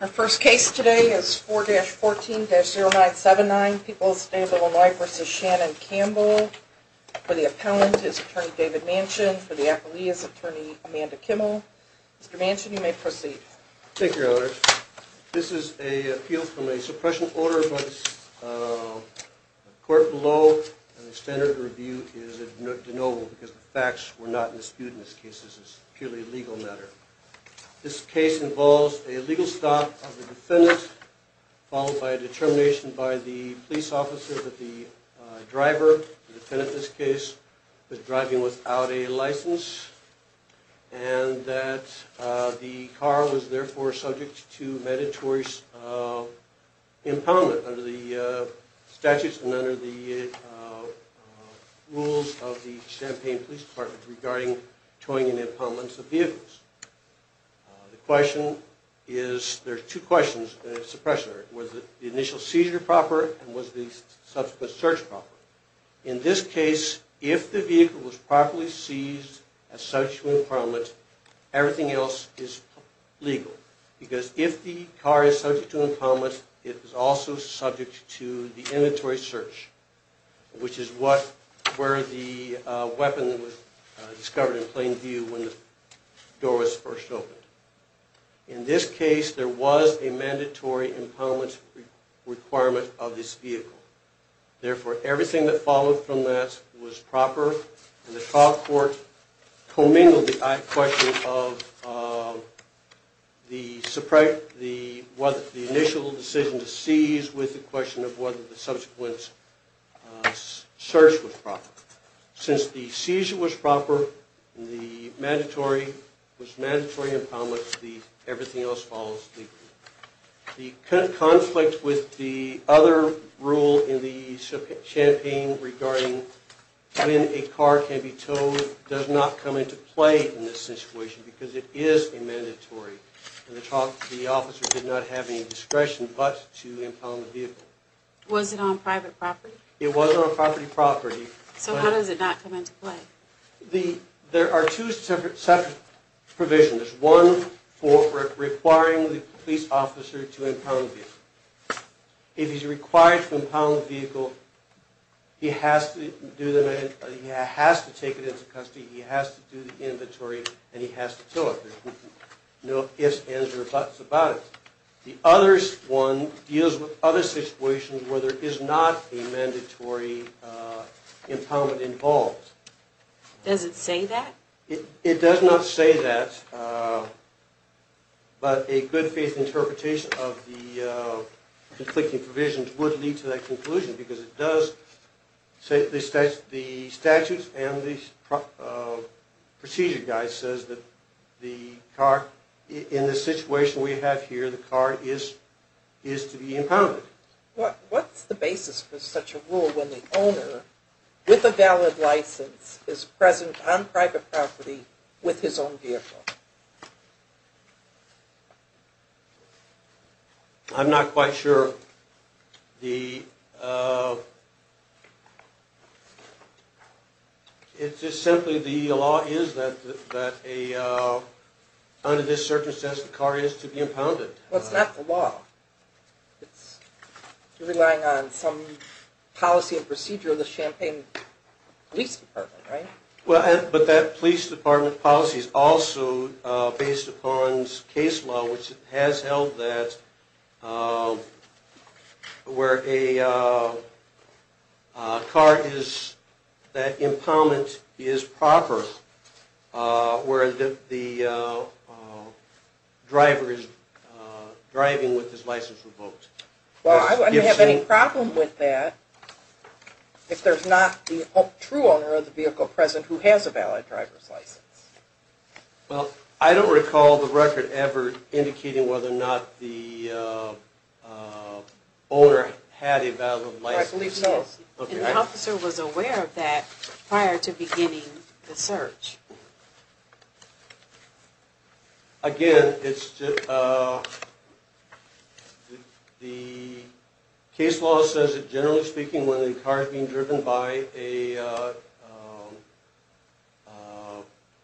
Our first case today is 4-14-0979, People's State of Illinois v. Shannon Campbell. For the appellant, it's Attorney David Manchin. For the appellee, it's Attorney Amanda Kimmel. Mr. Manchin, you may proceed. Thank you, Your Honor. This is an appeal from a suppression order, but the court below and the standard of review is deniable because the facts were not disputed in this case. This is purely a legal matter. This case involves a legal stop of the defendant, followed by a determination by the police officer that the driver, the defendant in this case, was driving without a license, and that the car was therefore subject to mandatory impoundment under the statutes and under the rules of the Champaign Police Department regarding towing and impoundments of vehicles. The question is, there are two questions in the suppression order. Was the initial seizure proper and was the subsequent search proper? In this case, if the vehicle was properly seized as subject to impoundment, everything else is legal. Because if the car is subject to impoundment, it is also subject to the inventory search, which is where the weapon was discovered in plain view when the door was first opened. In this case, there was a mandatory impoundment requirement of this vehicle. Therefore, everything that followed from that was proper. The trial court commingled the question of the initial decision to seize with the question of whether the subsequent search was proper. Since the seizure was proper, the mandatory impoundment, everything else follows legally. The conflict with the other rule in the Champaign regarding when a car can be towed does not come into play in this situation because it is a mandatory. The officer did not have any discretion but to impound the vehicle. Was it on private property? It was on property property. So how does it not come into play? There are two separate provisions. One for requiring the police officer to impound the vehicle. If he's required to impound the vehicle, he has to take it into custody, he has to do the inventory, and he has to tow it. There's no ifs, ands, or buts about it. The other one deals with other situations where there is not a mandatory impoundment involved. Does it say that? It does not say that, but a good faith interpretation of the conflicting provisions would lead to that conclusion because the statutes and the procedure guide says that the car, in the situation we have here, the car is to be impounded. What's the basis for such a rule when the owner, with a valid license, is present on private property with his own vehicle? I'm not quite sure. It's just simply the law is that under this circumstance the car is to be impounded. Well, it's not the law. You're relying on some policy and procedure of the Champaign Police Department, right? Well, but that police department policy is also based upon case law, which has held that where a car is, that impoundment is proper, where the driver is driving with his license revoked. Well, I don't have any problem with that if there's not the true owner of the vehicle present who has a valid driver's license. Well, I don't recall the record ever indicating whether or not the owner had a valid license. I believe so. And the officer was aware of that prior to beginning the search. Again, the case law says that generally speaking, when a car is being driven by an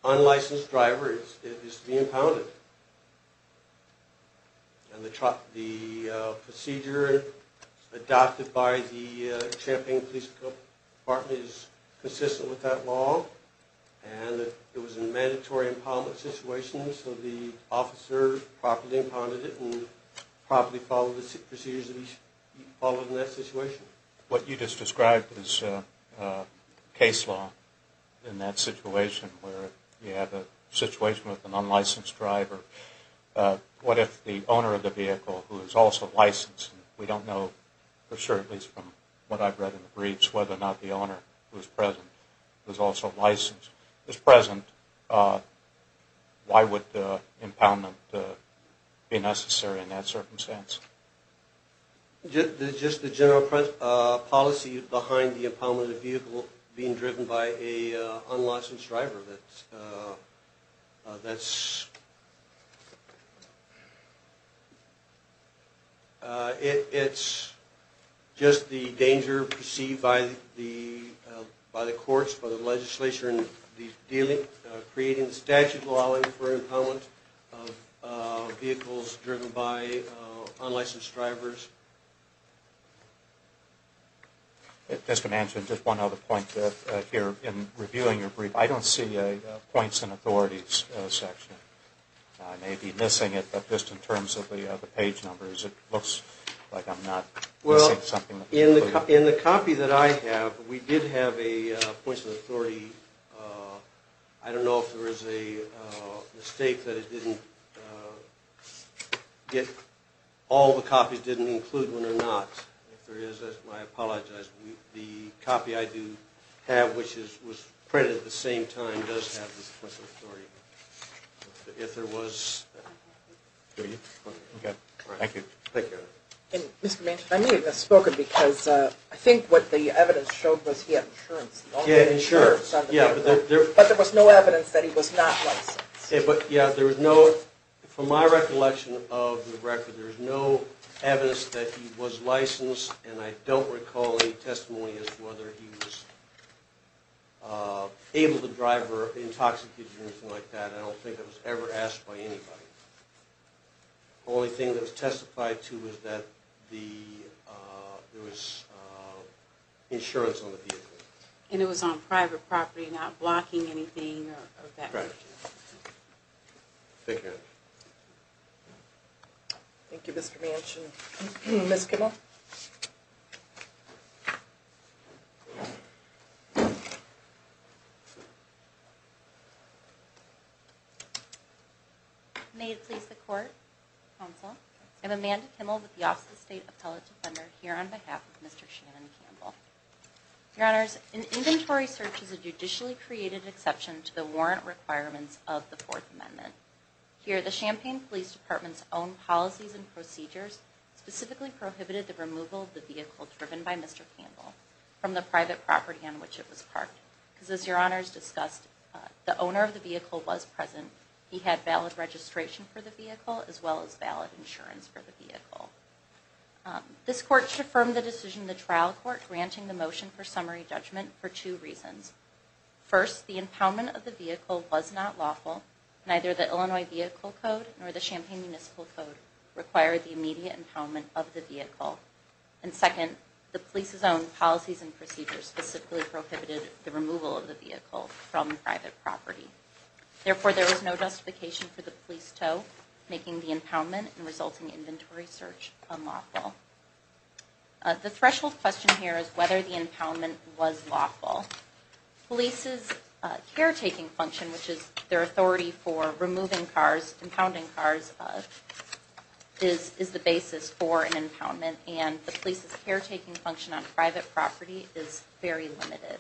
unlicensed driver, it is to be impounded. And the procedure adopted by the Champaign Police Department is consistent with that law. And it was a mandatory impoundment situation, so the officer properly impounded it and properly followed the procedures that he followed in that situation. What you just described is case law in that situation where you have a situation with an unlicensed driver. What if the owner of the vehicle, who is also licensed, we don't know for sure, at least from what I've read in the briefs, whether or not the owner who is present, who is also licensed, is present, why would impoundment be necessary in that circumstance? Just the general policy behind the impoundment of the vehicle being driven by an unlicensed driver. It's just the danger perceived by the courts, by the legislature in these dealings, creating the statute law for impoundment of vehicles driven by unlicensed drivers. Just one other point here. In reviewing your brief, I don't see a points and authorities section. I may be missing it, but just in terms of the page numbers, it looks like I'm not missing something. Well, in the copy that I have, we did have a points and authority. I don't know if there is a mistake that it didn't get all the copies, that it didn't include one or not. If there is, I apologize. The copy I do have, which was printed at the same time, does have the points and authority. If there was... Thank you. Mr. Manchin, I may have misspoken because I think what the evidence showed was he had insurance. Yeah, insurance. But there was no evidence that he was not licensed. From my recollection of the record, there is no evidence that he was licensed, and I don't recall any testimony as to whether he was able to drive or intoxicated or anything like that. I don't think it was ever asked by anybody. The only thing that was testified to was that there was insurance on the vehicle. And it was on private property, not blocking anything or that kind of thing. Right. Thank you. Thank you, Mr. Manchin. Ms. Kimmel? May it please the Court, Counsel, I'm Amanda Kimmel with the Office of the State Appellate Defender here on behalf of Mr. Shannon Campbell. Your Honors, an inventory search is a judicially created exception to the warrant requirements of the Fourth Amendment. Here, the Champaign Police Department's own policies and procedures specifically prohibited the removal of the vehicle driven by Mr. Campbell from the private property on which it was parked. Because as Your Honors discussed, the owner of the vehicle was present. He had valid registration for the vehicle as well as valid insurance for the vehicle. This Court should affirm the decision in the trial court granting the motion for summary judgment for two reasons. First, the impoundment of the vehicle was not lawful. Neither the Illinois Vehicle Code nor the Champaign Municipal Code required the immediate impoundment of the vehicle. And second, the police's own policies and procedures specifically prohibited the removal of the vehicle from private property. Therefore, there is no justification for the police toe making the impoundment and resulting inventory search unlawful. The threshold question here is whether the impoundment was lawful. Police's caretaking function, which is their authority for removing cars, impounding cars, is the basis for an impoundment and the police's caretaking function on private property is very limited.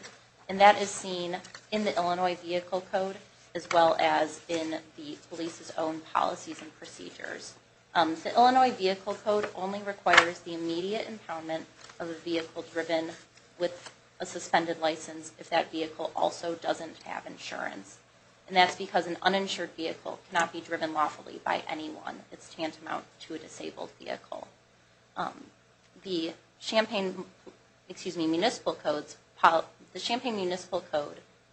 And that is seen in the Illinois Vehicle Code as well as in the police's own policies and procedures. The Illinois Vehicle Code only requires the immediate impoundment of a vehicle driven with a suspended license if that vehicle also doesn't have insurance. And that's because an uninsured vehicle cannot be driven lawfully by anyone. It's tantamount to a disabled vehicle. The Champaign Municipal Code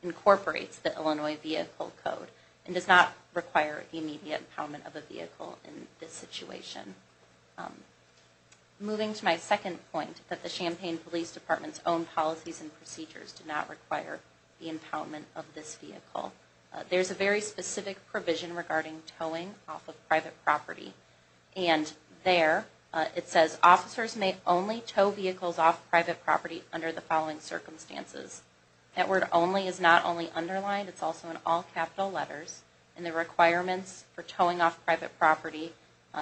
incorporates the Illinois Vehicle Code and does not require the immediate impoundment of a vehicle in this situation. Moving to my second point, that the Champaign Police Department's own policies and procedures do not require the impoundment of this vehicle. There's a very specific provision regarding towing off of private property. And there it says officers may only tow vehicles off private property under the following circumstances. That word only is not only underlined, it's also in all capital letters. And the requirements for towing off private property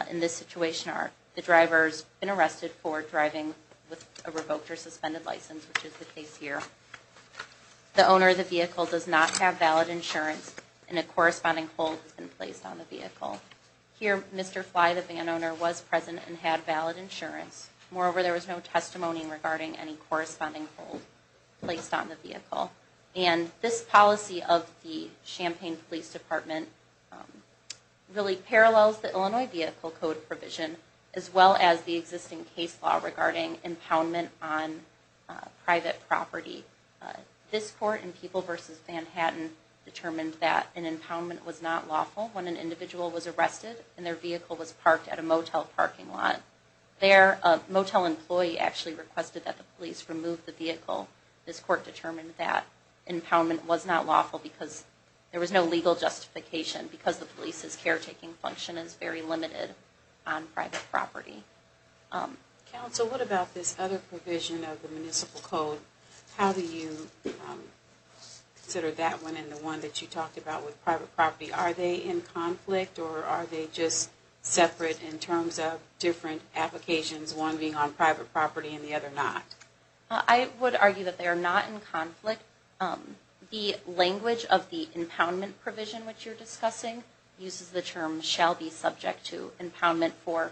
in this situation are the driver's been arrested for driving with a revoked or suspended license, which is the case here. The owner of the vehicle does not have valid insurance and a corresponding hold has been placed on the vehicle. Here, Mr. Fly, the van owner, was present and had valid insurance. Moreover, there was no testimony regarding any corresponding hold placed on the vehicle. And this policy of the Champaign Police Department really parallels the Illinois Vehicle Code provision as well as the existing case law regarding impoundment on private property. This court in People v. Manhattan determined that an impoundment was not lawful when an individual was arrested and their vehicle was parked at a motel parking lot. A motel employee actually requested that the police remove the vehicle. This court determined that impoundment was not lawful because there was no legal justification because the police's caretaking function is very limited on private property. Counsel, what about this other provision of the Municipal Code? How do you consider that one and the one that you talked about with private property? Are they in conflict or are they just separate in terms of different applications, one being on private property and the other not? I would argue that they are not in conflict. The language of the impoundment provision, which you're discussing, uses the term shall be subject to impoundment for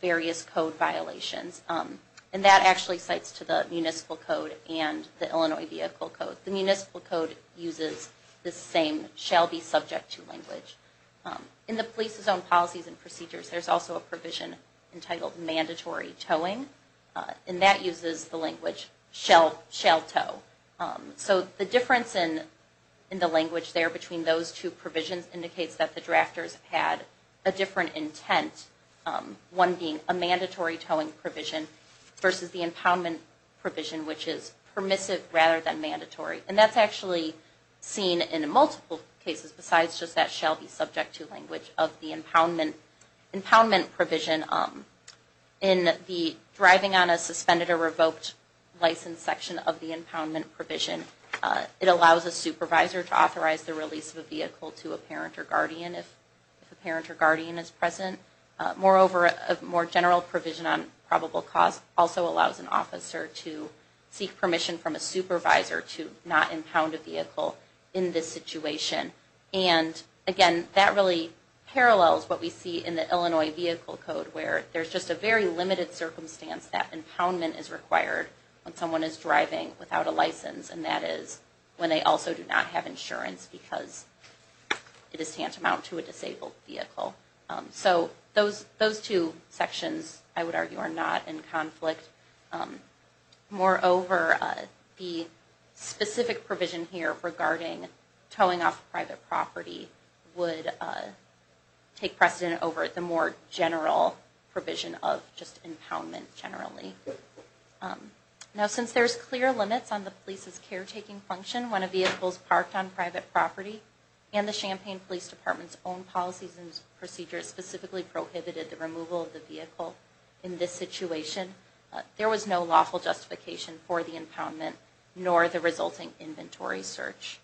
various code violations. And that actually cites to the Municipal Code and the Illinois Vehicle Code. So the Municipal Code uses the same shall be subject to language. In the police's own policies and procedures, there's also a provision entitled mandatory towing. And that uses the language shall tow. So the difference in the language there between those two provisions indicates that the drafters had a different intent, one being a mandatory towing provision versus the impoundment provision, which is permissive rather than mandatory. And that's actually seen in multiple cases besides just that shall be subject to language of the impoundment provision. In the driving on a suspended or revoked license section of the impoundment provision, it allows a supervisor to authorize the release of a vehicle to a parent or guardian if a parent or guardian is present. Moreover, a more general provision on probable cause also allows an officer to seek permission from a supervisor to not impound a vehicle in this situation. And again, that really parallels what we see in the Illinois Vehicle Code where there's just a very limited circumstance that impoundment is required when someone is driving without a license. And that is when they also do not have insurance because it is tantamount to a disabled vehicle. So those two sections, I would argue, are not in conflict. Moreover, the specific provision here regarding towing off private property would take precedent over the more general provision of just impoundment generally. Now, since there's clear limits on the police's caretaking function when a vehicle is parked on private property and the Champaign Police Department's own policies and procedures specifically prohibited the removal of the vehicle in this situation, there was no lawful justification for the impoundment nor the resulting inventory search.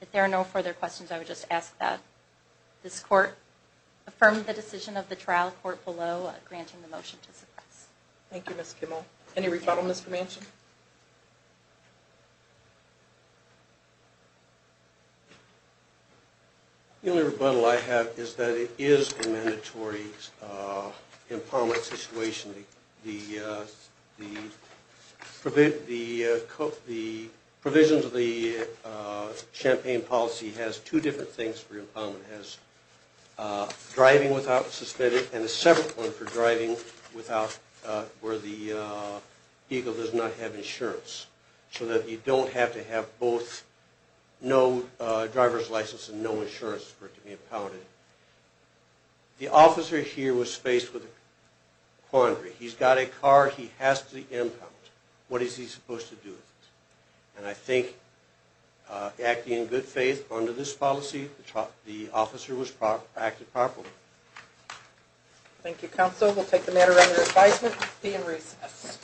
If there are no further questions, I would just ask that this court affirm the decision of the trial court below granting the motion to suppress. Thank you, Ms. Kimball. Any rebuttal, Mr. Manchin? The only rebuttal I have is that it is a mandatory impoundment situation. The provisions of the Champaign policy has two different things for impoundment. It has driving without suspending and a separate one for driving where the vehicle does not have insurance so that you don't have to have both no driver's license and no insurance for it to be impounded. The officer here was faced with a quandary. He's got a car. He has to be impounded. What is he supposed to do with it? And I think acting in good faith under this policy, the officer was acted properly. Thank you, counsel. We'll take the matter under advisement to be in recess.